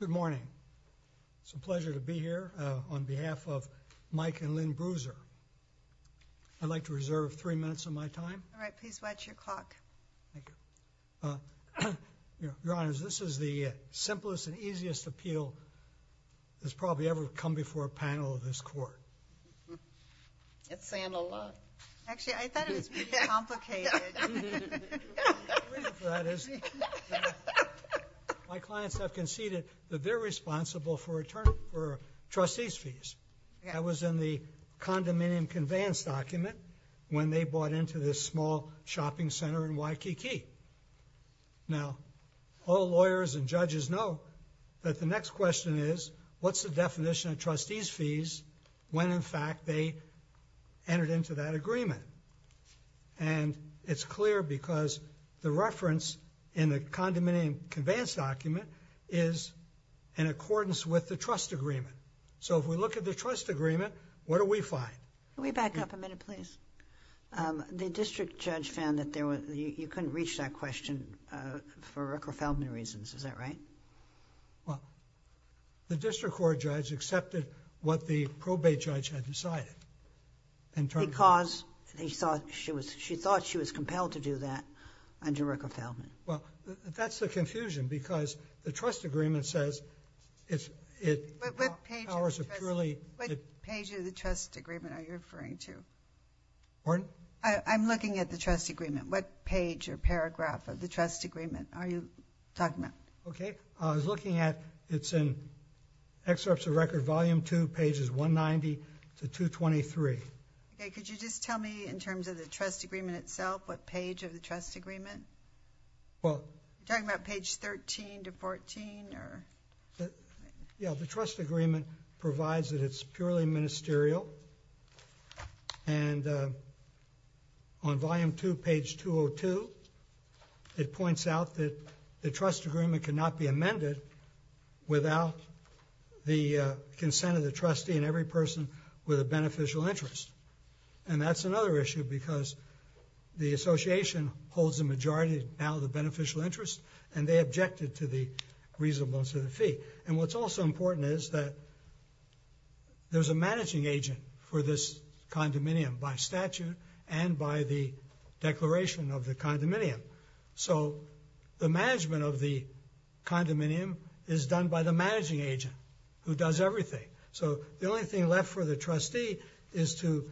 Good morning. It's a pleasure to be here on behalf of Mike and Lynn Bruser. I'd like to reserve three minutes of my time. All right please watch your clock. Thank you. Your Honors, this is the simplest and easiest appeal that's probably ever come up. My clients have conceded that they're responsible for trustees fees. That was in the condominium conveyance document when they bought into this small shopping center in Waikiki. Now all lawyers and judges know that the next question is, what's the definition of trustees fees when in fact they entered into that agreement? And it's clear because the reference in the condominium conveyance document is in accordance with the trust agreement. So if we look at the trust agreement, what do we find? Can we back up a minute please? The district judge found that there was, you couldn't reach that question for Rockefellman reasons, is that right? Well, the district court judge accepted what the probate judge had decided. Because she thought she was compelled to do that under Rockefellman. Well, that's the confusion because the trust agreement says... What page of the trust agreement are you referring to? Pardon? I'm looking at the trust agreement. What page or paragraph of the trust agreement are you talking about? Okay, I was looking at, it's in excerpts of record volume two pages 190 to 223. Okay, could you just tell me in terms of the trust agreement itself, what page of the trust agreement? Well, you're talking about page 13 to 14? Yeah, the trust agreement provides that it's purely ministerial. And on volume two, page 202, it points out that the trust agreement cannot be amended without the consent of the trustee and every person with a beneficial interest. And that's another issue because the association holds the majority, now the beneficial interest, and they objected to the reasonableness of the fee. And what's also important is that there's a managing agent for this condominium by statute and by the declaration of the condominium. So, the management of the condominium is done by the managing agent who does everything. So, the only thing left for the trustee is to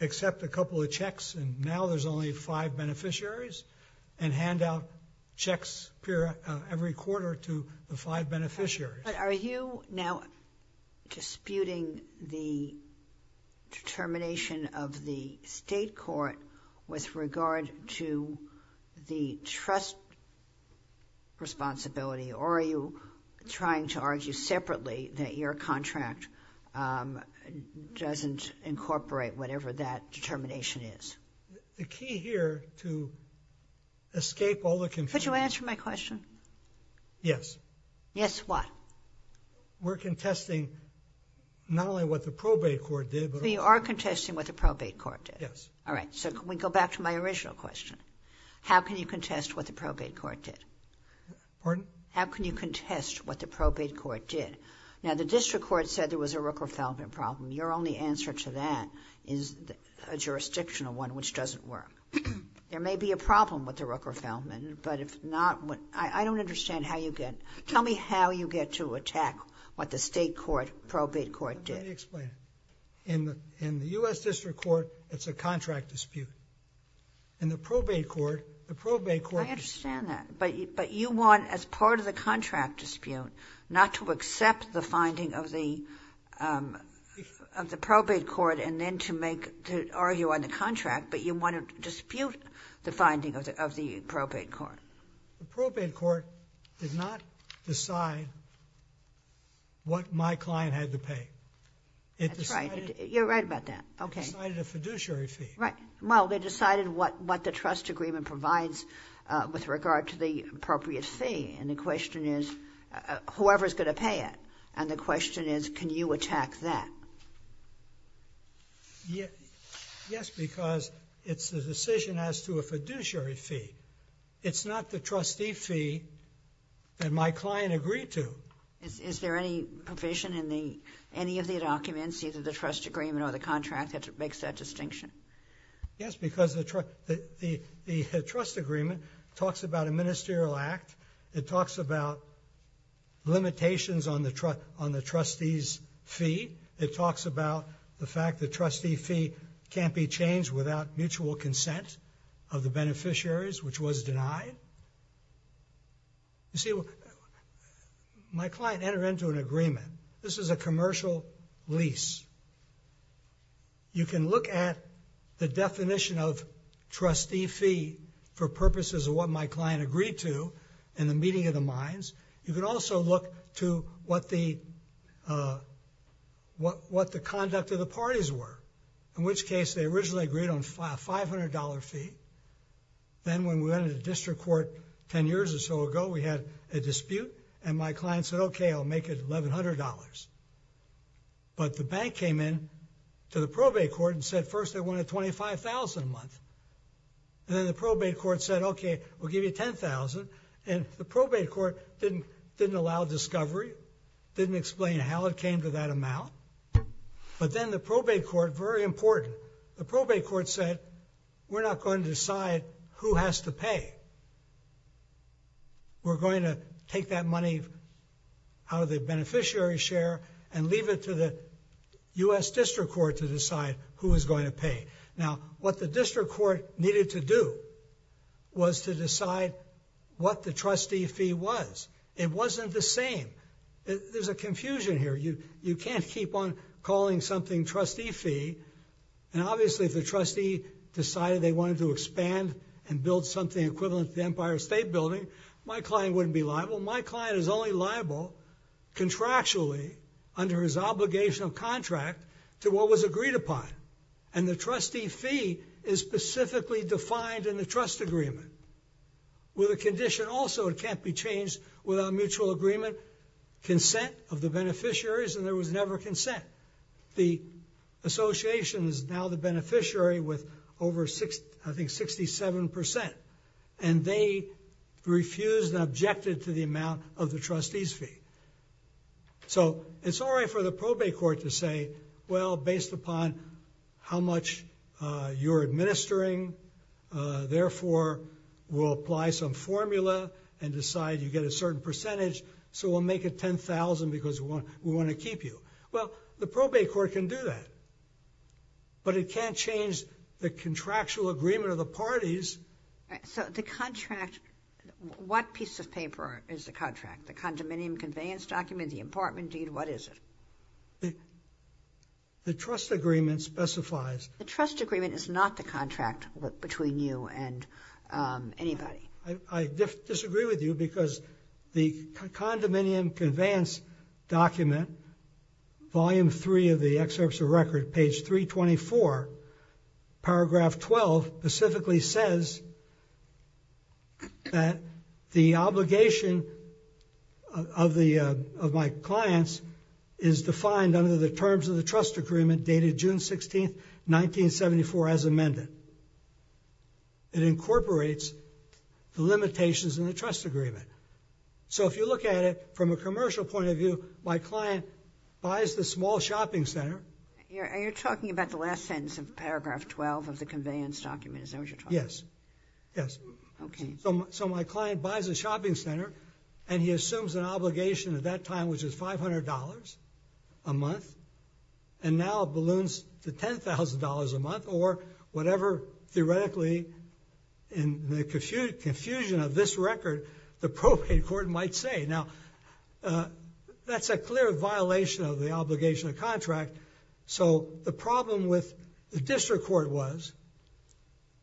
accept a couple of checks, and now there's only five beneficiaries, and hand out checks every quarter to the five state court with regard to the trust responsibility, or are you trying to argue separately that your contract doesn't incorporate whatever that determination is? The key here to escape all the confusion. Could you answer my question? Yes. Yes, what? We're contesting not only what the probate court did. We are contesting what the probate court did. Yes. All right. So, can we go back to my original question? How can you contest what the probate court did? Pardon? How can you contest what the probate court did? Now, the district court said there was a Rooker-Feldman problem. Your only answer to that is a jurisdictional one, which doesn't work. There may be a problem with the Rooker-Feldman, but if not, I don't understand how you get, tell me how you get to attack what the state court, probate court did. Let me explain. In the U.S. district court, it's a contract dispute. In the probate court, the probate court... I understand that, but you want, as part of the contract dispute, not to accept the finding of the probate court and then to make, to argue on the contract, but you want to dispute the finding of the probate court. The probate court did not decide what my client had to pay. That's right. You're right about that. Okay. It decided a fiduciary fee. Right. Well, they decided what the trust agreement provides with regard to the appropriate fee, and the question is, whoever's going to pay it? And the question is, can you attack that? Yes, because it's a decision as to a fiduciary fee. It's not the trustee fee that my client agreed to. Is there any provision in the, any of the documents, either the trust agreement or the contract, that makes that distinction? Yes, because the trust agreement talks about a ministerial act. It talks about limitations on the trustee's fee. It talks about the fact that trustee fee can't be changed without mutual consent of the beneficiaries, which was denied. You see, my client entered into an agreement. This is a commercial lease. You can look at the definition of trustee fee for purposes of what my client agreed to in the meeting of the minds. You can also look to what the conduct of the parties were, in which case they originally agreed on a $500 fee. Then when we went into district court 10 years or so ago, we had a dispute, and my client said, okay, I'll make it $1,100. But the bank came in to the probate court and said, first, they wanted $25,000 a month. And then the probate court said, okay, we'll give you $10,000. And the probate court didn't allow discovery, didn't explain how it came to that amount. But then the probate court, very important, the probate court said, we're not going to decide who has to pay. We're going to take that money out of the beneficiary's share and leave it to the U.S. District Court to decide who is going to pay. Now, what the district court needed to do was to decide what the trustee fee was. It wasn't the same. There's a confusion here. You can't keep on calling something trustee fee. And obviously, if the trustee decided they wanted to expand and build something equivalent to the Empire State Building, my client wouldn't be liable. My client is only liable contractually under his obligation of contract to what was agreed upon. And the trustee fee is specifically defined in the trust agreement. With a condition also that can't be changed without mutual agreement, consent of the beneficiaries. And there was never consent. The association is now the beneficiary with over, I think, 67%. And they refused and objected to the amount of the trustee's fee. So it's all right for the probate court to say, well, based upon how much you're administering, therefore, we'll apply some formula and decide you get a certain percentage. So we'll make it 10,000 because we want to keep you. Well, the probate court can do that. But it can't change the contractual agreement of the parties. So the contract, what piece of paper is the contract? The condominium conveyance document, the important deed, what is it? The trust agreement specifies. The trust agreement is not the contract between you and anybody. I disagree with you because the condominium conveyance document, volume three of the excerpts of record, page 324, paragraph 12, specifically says that the obligation of my clients is defined under the terms of the trust agreement dated June 16th, 1974, as amended. It incorporates the limitations in the trust agreement. So if you look at it from a commercial point of view, my client buys the small shopping center. You're talking about the last sentence of paragraph 12 of the conveyance document, is that what you're talking about? Yes. Yes. Okay. So my client buys a shopping center and he assumes an obligation at that time, which is $500 a month. And now it balloons to $10,000 a month or whatever, theoretically, in the confusion of this record, the probate court might say. Now, that's a clear violation of the obligation of contract. So the problem with the district court was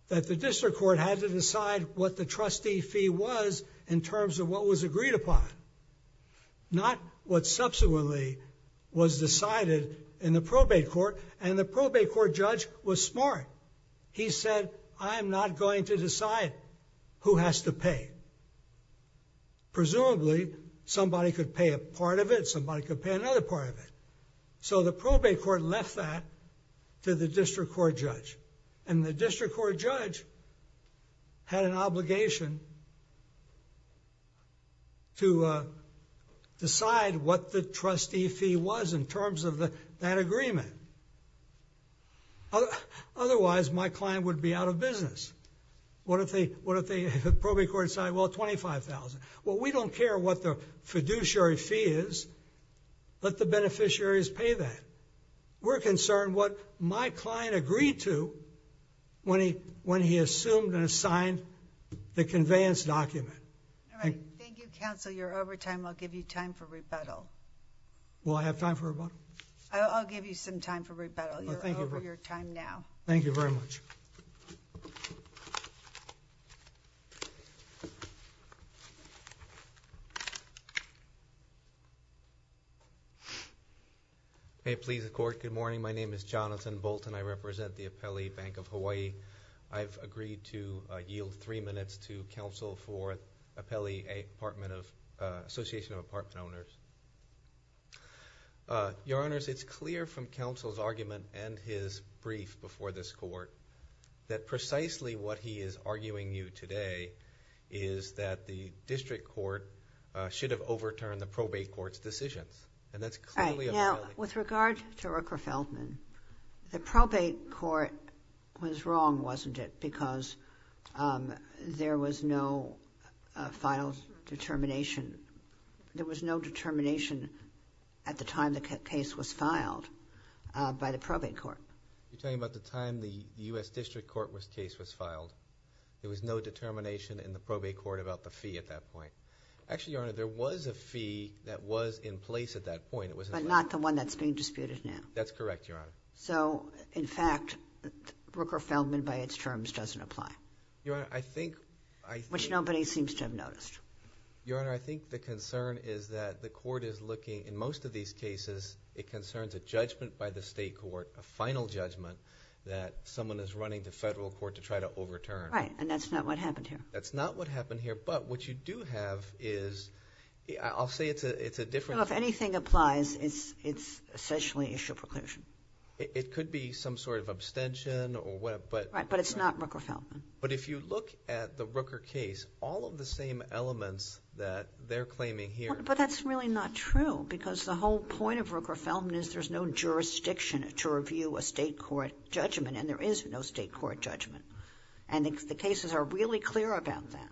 that the district court had to decide what the trustee fee was in terms of what was agreed upon, not what subsequently was decided in the probate court. And the probate court judge was smart. He said, I am not going to decide who has to pay. Presumably, somebody could pay a part of it. Somebody could pay another part of it. So the probate court left that to the district court judge. And the district court judge had an obligation to decide what the trustee fee was in terms of that agreement. Otherwise, my client would be out of business. What if the probate court decided, well, $25,000? Well, we don't care what the fiduciary fee is. Let the beneficiaries pay that. We're concerned what my client agreed to when he assumed and assigned the conveyance document. All right. Thank you, counsel. You're over time. I'll give you time for rebuttal. Will I have time for rebuttal? I'll give you some time for rebuttal. You're over your time now. Thank you very much. Thank you. May it please the court. Good morning. My name is Jonathan Bolton. I represent the Apele Bank of Hawaii. I've agreed to yield three minutes to counsel for Apele Association of Apartment Owners. Your honors, it's clear from counsel's argument and his brief before this court that precisely what he is arguing you today is that the district court should have overturned the probate court's decisions. And that's clearly a violation. Now, with regard to Rooker-Feldman, the probate court was wrong, wasn't it? Because there was no final determination. There was no determination at the time the case was filed by the probate court. You're talking about the time the U.S. district court case was filed. There was no determination in the probate court about the fee at that point. Actually, your honor, there was a fee that was in place at that point. But not the one that's being disputed now. That's correct, your honor. So, in fact, Rooker-Feldman by its terms doesn't apply. Your honor, I think... Which nobody seems to have noticed. Your honor, I think the concern is that the court is looking, in most of these cases, it concerns a judgment by the state court, a final judgment that someone is running the federal court to try to overturn. Right. And that's not what happened here. That's not what happened here. But what you do have is, I'll say it's a different... Well, if anything applies, it's essentially issue of proclusion. It could be some sort of abstention or whatever, but... Right. But it's not Rooker-Feldman. But if you look at the Rooker case, all of the same elements that they're claiming here... But that's really not true. Because the whole point of Rooker-Feldman is there's no jurisdiction to review a state court judgment. And there is no state court judgment. And the cases are really clear about that.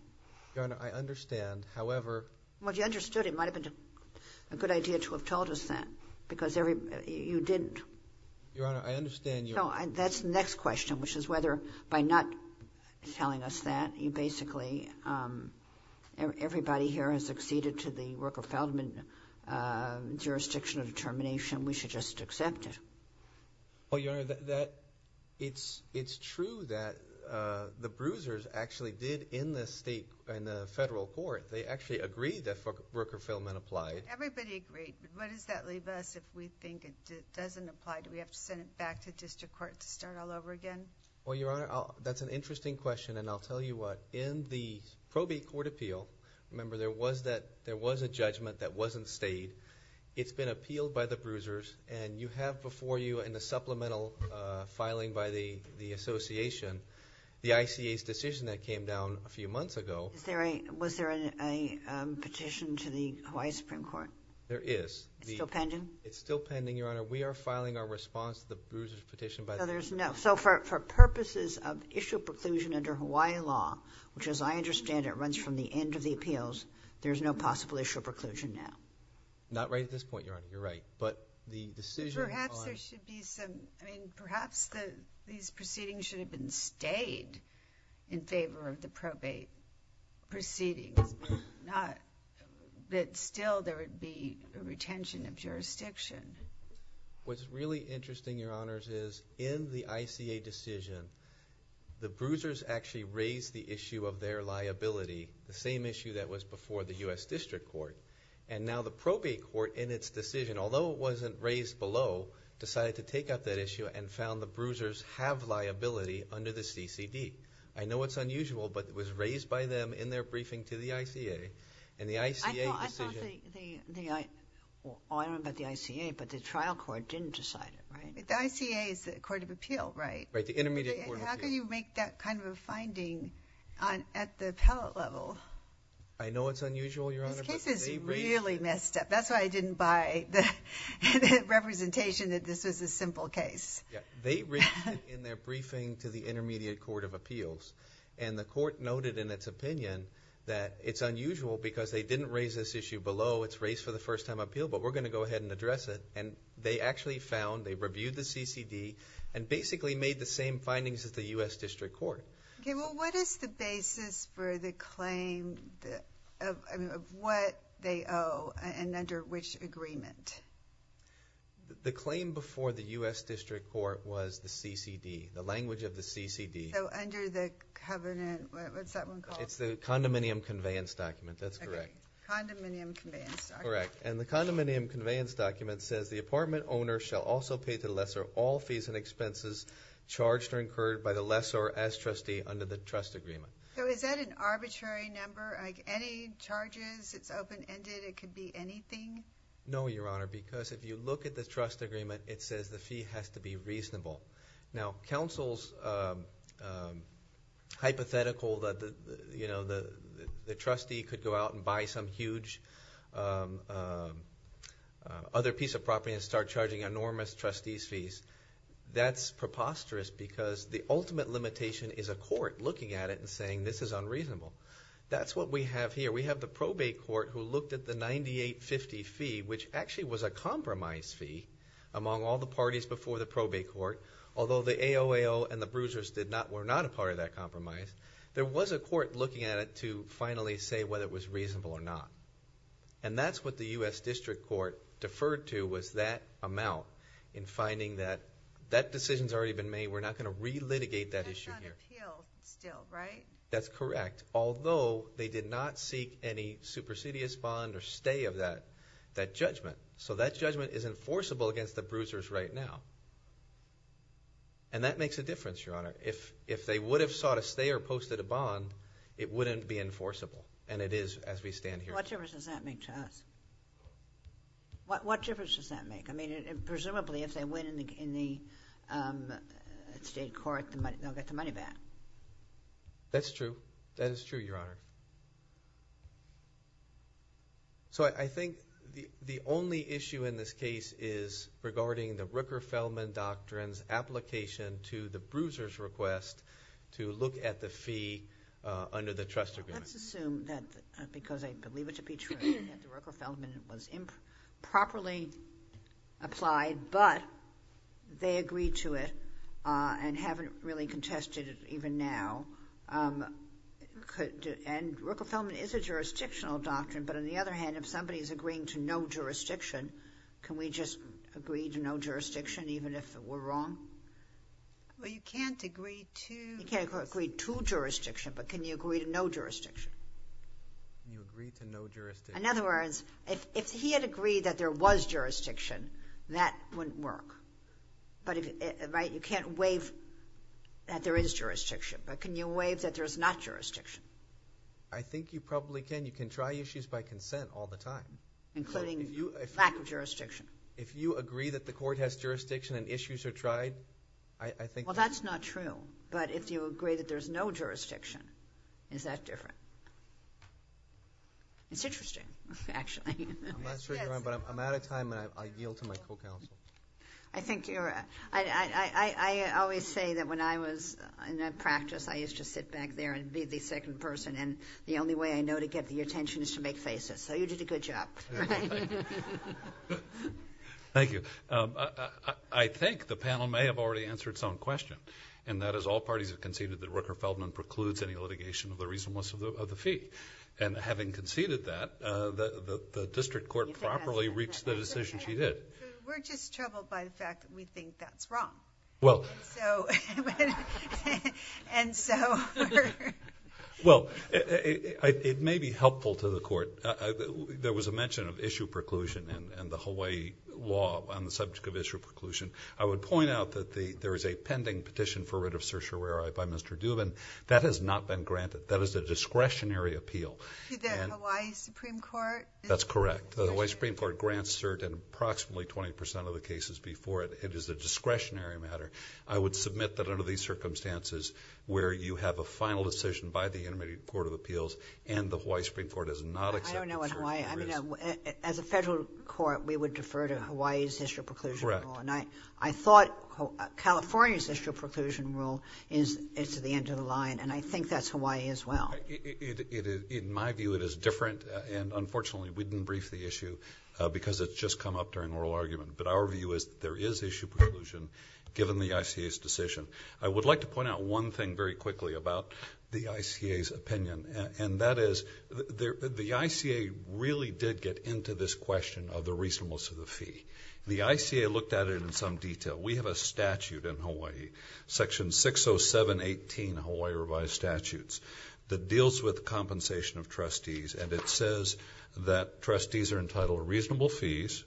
Your honor, I understand. However... Well, if you understood, it might have been a good idea to have told us that. Because you didn't. Your honor, I understand you... That's the next question, which is whether by not telling us that, you basically... Everybody here has acceded to the Rooker-Feldman jurisdiction of determination. We should just accept it. Well, your honor, it's true that the bruisers actually did in the state, in the federal court. They actually agreed that Rooker-Feldman applied. Everybody agreed. What does that leave us if we think it doesn't apply? Do we have to send it back to district court to start all over again? Well, your honor, that's an interesting question. And I'll tell you what. In the probate court appeal, remember there was a judgment that wasn't stayed. It's been appealed by the bruisers. And you have before you in the supplemental filing by the association, the ICA's decision that came down a few months ago. Was there a petition to the Hawaii Supreme Court? There is. It's still pending? It's still pending, your honor. We are filing our response to the bruiser's petition by the Supreme Court. No, there's no. So for purposes of issue preclusion under Hawaii law, which as I understand it, runs from the end of the appeals, there's no possible issue of preclusion now. Not right at this point, your honor. You're right. But the decision on. Perhaps there should be some, I mean, perhaps the, these proceedings should have been stayed in favor of the probate proceedings. Not that still there would be a retention of jurisdiction. What's really interesting, your honors, is in the ICA decision, the bruisers actually raised the issue of their liability. The same issue that was before the U.S. District Court. And now the probate court in its decision, although it wasn't raised below, decided to take up that issue and found the bruisers have liability under the CCD. I know it's unusual, but it was raised by them in their briefing to the ICA and the ICA decision. The, the, the, I, I don't know about the ICA, but the trial court didn't decide it, right? The ICA is the court of appeal, right? Right. The intermediate court of appeal. How can you make that kind of a finding on, at the appellate level? I know it's unusual, your honor. This case is really messed up. That's why I didn't buy the representation that this was a simple case. Yeah. They raised it in their briefing to the intermediate court of appeals. And the court noted in its opinion that it's unusual because they didn't raise this issue below. It's raised for the first time appeal, but we're going to go ahead and address it. And they actually found, they reviewed the CCD and basically made the same findings as the U.S. District Court. Okay. Well, what is the basis for the claim of, I mean, of what they owe and under which agreement? The claim before the U.S. District Court was the CCD, the language of the CCD. So under the covenant, what's that one called? It's the condominium conveyance document. That's correct. Condominium conveyance document. Correct. And the condominium conveyance document says the apartment owner shall also pay to the lesser all fees and expenses charged or incurred by the lesser as trustee under the trust agreement. So is that an arbitrary number? Like any charges? It's open ended. It could be anything? No, your honor. Because if you look at the trust agreement, it says the fee has to be reasonable. Now, counsel's hypothetical that, you know, the trustee could go out and buy some huge other piece of property and start charging enormous trustee's fees. That's preposterous because the ultimate limitation is a court looking at it and saying this is unreasonable. That's what we have here. We have the probate court who looked at the 9850 fee, which actually was a compromise fee among all the parties before the probate court. Although the AOAO and the bruisers were not a part of that compromise, there was a court looking at it to finally say whether it was reasonable or not. And that's what the U.S. District Court deferred to was that amount in finding that that decision's already been made. We're not going to re-litigate that issue here. That's on appeal still, right? That's correct. Although they did not seek any supersedious bond or stay of that judgment. So that judgment is enforceable against the bruisers right now. And that makes a difference, your honor. If they would have sought a stay or posted a bond, it wouldn't be enforceable. And it is as we stand here. What difference does that make to us? What difference does that make? I mean, presumably if they win in the state court, they'll get the money back. That's true. That is true, your honor. So I think the only issue in this case is regarding the Rooker-Feldman doctrine's application to the bruiser's request to look at the fee under the trust agreement. Let's assume that because I believe it to be true that the Rooker-Feldman was improperly applied, but they agreed to it and haven't really contested it even now. And Rooker-Feldman is a jurisdictional doctrine. But on the other hand, if somebody is agreeing to no jurisdiction, can we just agree to no jurisdiction even if we're wrong? Well, you can't agree to. You can't agree to jurisdiction. But can you agree to no jurisdiction? You agree to no jurisdiction. In other words, if he had agreed that there was jurisdiction, that wouldn't work. But you can't waive that there is jurisdiction. But can you waive that there's not jurisdiction? I think you probably can. You can try issues by consent all the time. Including lack of jurisdiction. If you agree that the court has jurisdiction and issues are tried, I think- Well, that's not true. But if you agree that there's no jurisdiction, is that different? It's interesting, actually. I'm not sure, your honor, but I'm out of time and I yield to my co-counsel. I think you're- I always say that when I was in that practice, I used to sit back there and be the second person. And the only way I know to get your attention is to make faces. So you did a good job. Thank you. I think the panel may have already answered its own question. And that is, all parties have conceded that Rooker-Feldman precludes any litigation of the reasonableness of the fee. And having conceded that, the district court properly reached the decision she did. We're just troubled by the fact that we think that's wrong. Well- So, and so we're- Well, it may be helpful to the court. There was a mention of issue preclusion and the Hawaii law on the subject of issue preclusion. I would point out that there is a pending petition for writ of certiorari by Mr. Dubin. That has not been granted. That is a discretionary appeal. To the Hawaii Supreme Court? That's correct. The Hawaii Supreme Court grants cert in approximately 20% of the cases before it. It is a discretionary matter. I would submit that under these circumstances, where you have a final decision by the Intermediate Court of Appeals, and the Hawaii Supreme Court has not accepted certiorari- I don't know what Hawaii, I mean, as a federal court, we would defer to Hawaii's issue preclusion law. Correct. And I thought California's issue preclusion rule is the end of the line. And I think that's Hawaii as well. In my view, it is different. And unfortunately, we didn't brief the issue because it's just come up during oral argument. But our view is that there is issue preclusion, given the ICA's decision. I would like to point out one thing very quickly about the ICA's opinion. And that is, the ICA really did get into this question of the reasonableness of the fee. The ICA looked at it in some detail. We have a statute in Hawaii, Section 60718, Hawaii Revised Statutes. That deals with compensation of trustees. And it says that trustees are entitled to reasonable fees.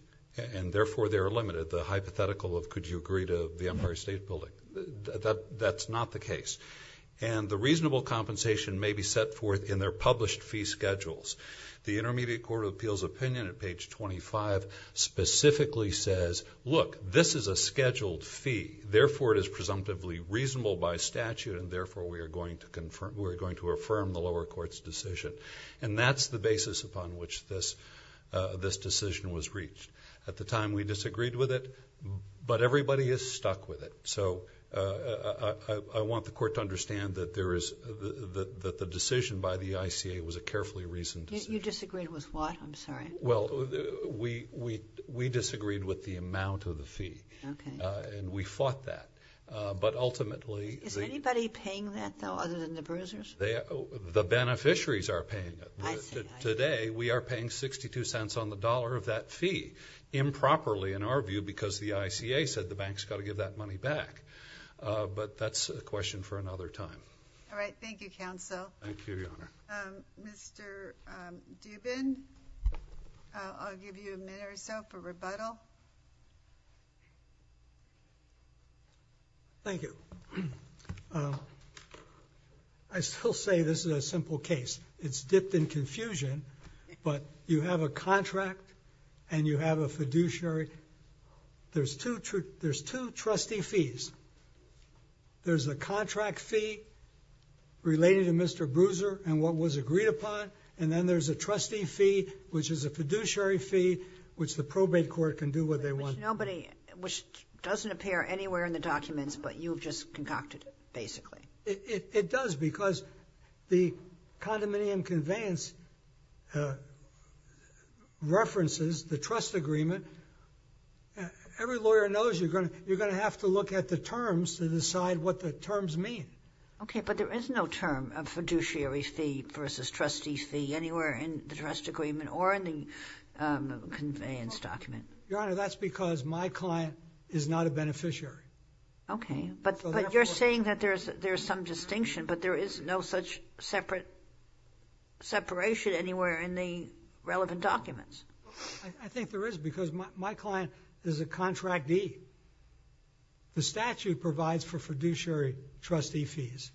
And therefore, they are limited. The hypothetical of, could you agree to the Empire State Building, that's not the case. And the reasonable compensation may be set forth in their published fee schedules. The Intermediate Court of Appeals opinion at page 25 specifically says, look, this is a scheduled fee. Therefore, it is presumptively reasonable by statute. And therefore, we are going to affirm the lower court's decision. And that's the basis upon which this decision was reached. At the time, we disagreed with it. But everybody is stuck with it. So I want the court to understand that the decision by the ICA was a carefully reasoned decision. You disagreed with what? Well, we disagreed with the amount of the fee. Okay. And we fought that. But ultimately- Is anybody paying that though, other than the bruisers? The beneficiaries are paying it. Today, we are paying 62 cents on the dollar of that fee. Improperly, in our view, because the ICA said the bank's got to give that money back. But that's a question for another time. All right, thank you, counsel. Thank you, Your Honor. Mr. Dubin, I'll give you a minute or so for rebuttal. Thank you. I still say this is a simple case. It's dipped in confusion. But you have a contract and you have a fiduciary. There's two trustee fees. There's a contract fee relating to Mr. Bruiser and what was agreed upon. And then there's a trustee fee, which is a fiduciary fee, which the probate court can do what they want. Which nobody, which doesn't appear anywhere in the documents, but you've just concocted it, basically. It does, because the condominium conveyance references the trust agreement. Every lawyer knows you're going to have to look at the terms to decide what the terms mean. Okay, but there is no term of fiduciary fee versus trustee fee anywhere in the trust agreement or in the conveyance document. Your Honor, that's because my client is not a beneficiary. Okay, but you're saying that there's some distinction, but there is no such separate separation anywhere in the relevant documents. I think there is, because my client is a contractee. The statute provides for fiduciary trustee fees.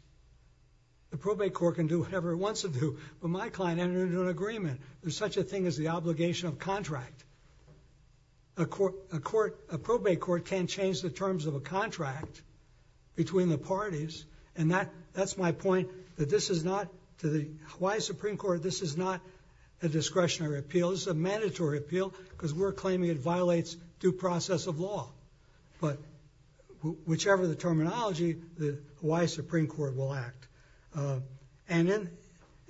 The probate court can do whatever it wants to do, but my client entered into an agreement. There's such a thing as the obligation of contract. A court, a court, a probate court can't change the terms of a contract between the parties. And that, that's my point, that this is not, to the Hawaii Supreme Court, this is not a discretionary appeal. This is a mandatory appeal, because we're claiming it violates due process of law. But, whichever the terminology, the Hawaii Supreme Court will act. And then,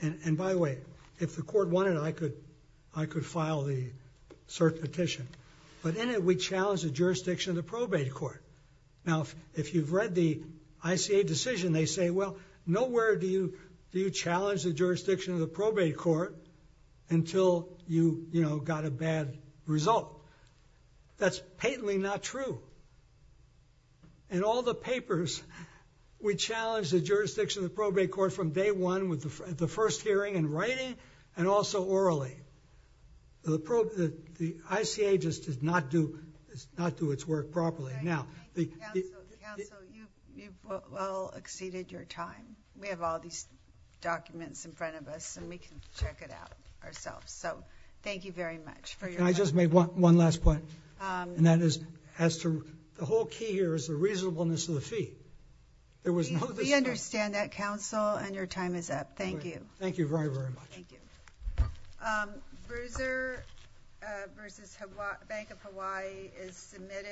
and by the way, if the court wanted, I could, I could file the cert petition. But in it, we challenge the jurisdiction of the probate court. Now, if you've read the ICA decision, they say, well, nowhere do you, do you challenge the jurisdiction of the probate court until you, you know, got a bad result. That's patently not true. In all the papers, we challenge the jurisdiction of the probate court from day one with the first hearing and writing, and also orally. The prob, the ICA just did not do, not do its work properly. Now, the- Thank you, counsel. Counsel, you, you've well exceeded your time. We have all these documents in front of us, and we can check it out ourselves. So, thank you very much for your- Can I just make one, one last point? And that is, as to, the whole key here is the reasonableness of the fee. There was no- We understand that, counsel, and your time is up. Thank you. Thank you very, very much. Thank you. Bruiser versus Bank of Hawaii is submitted.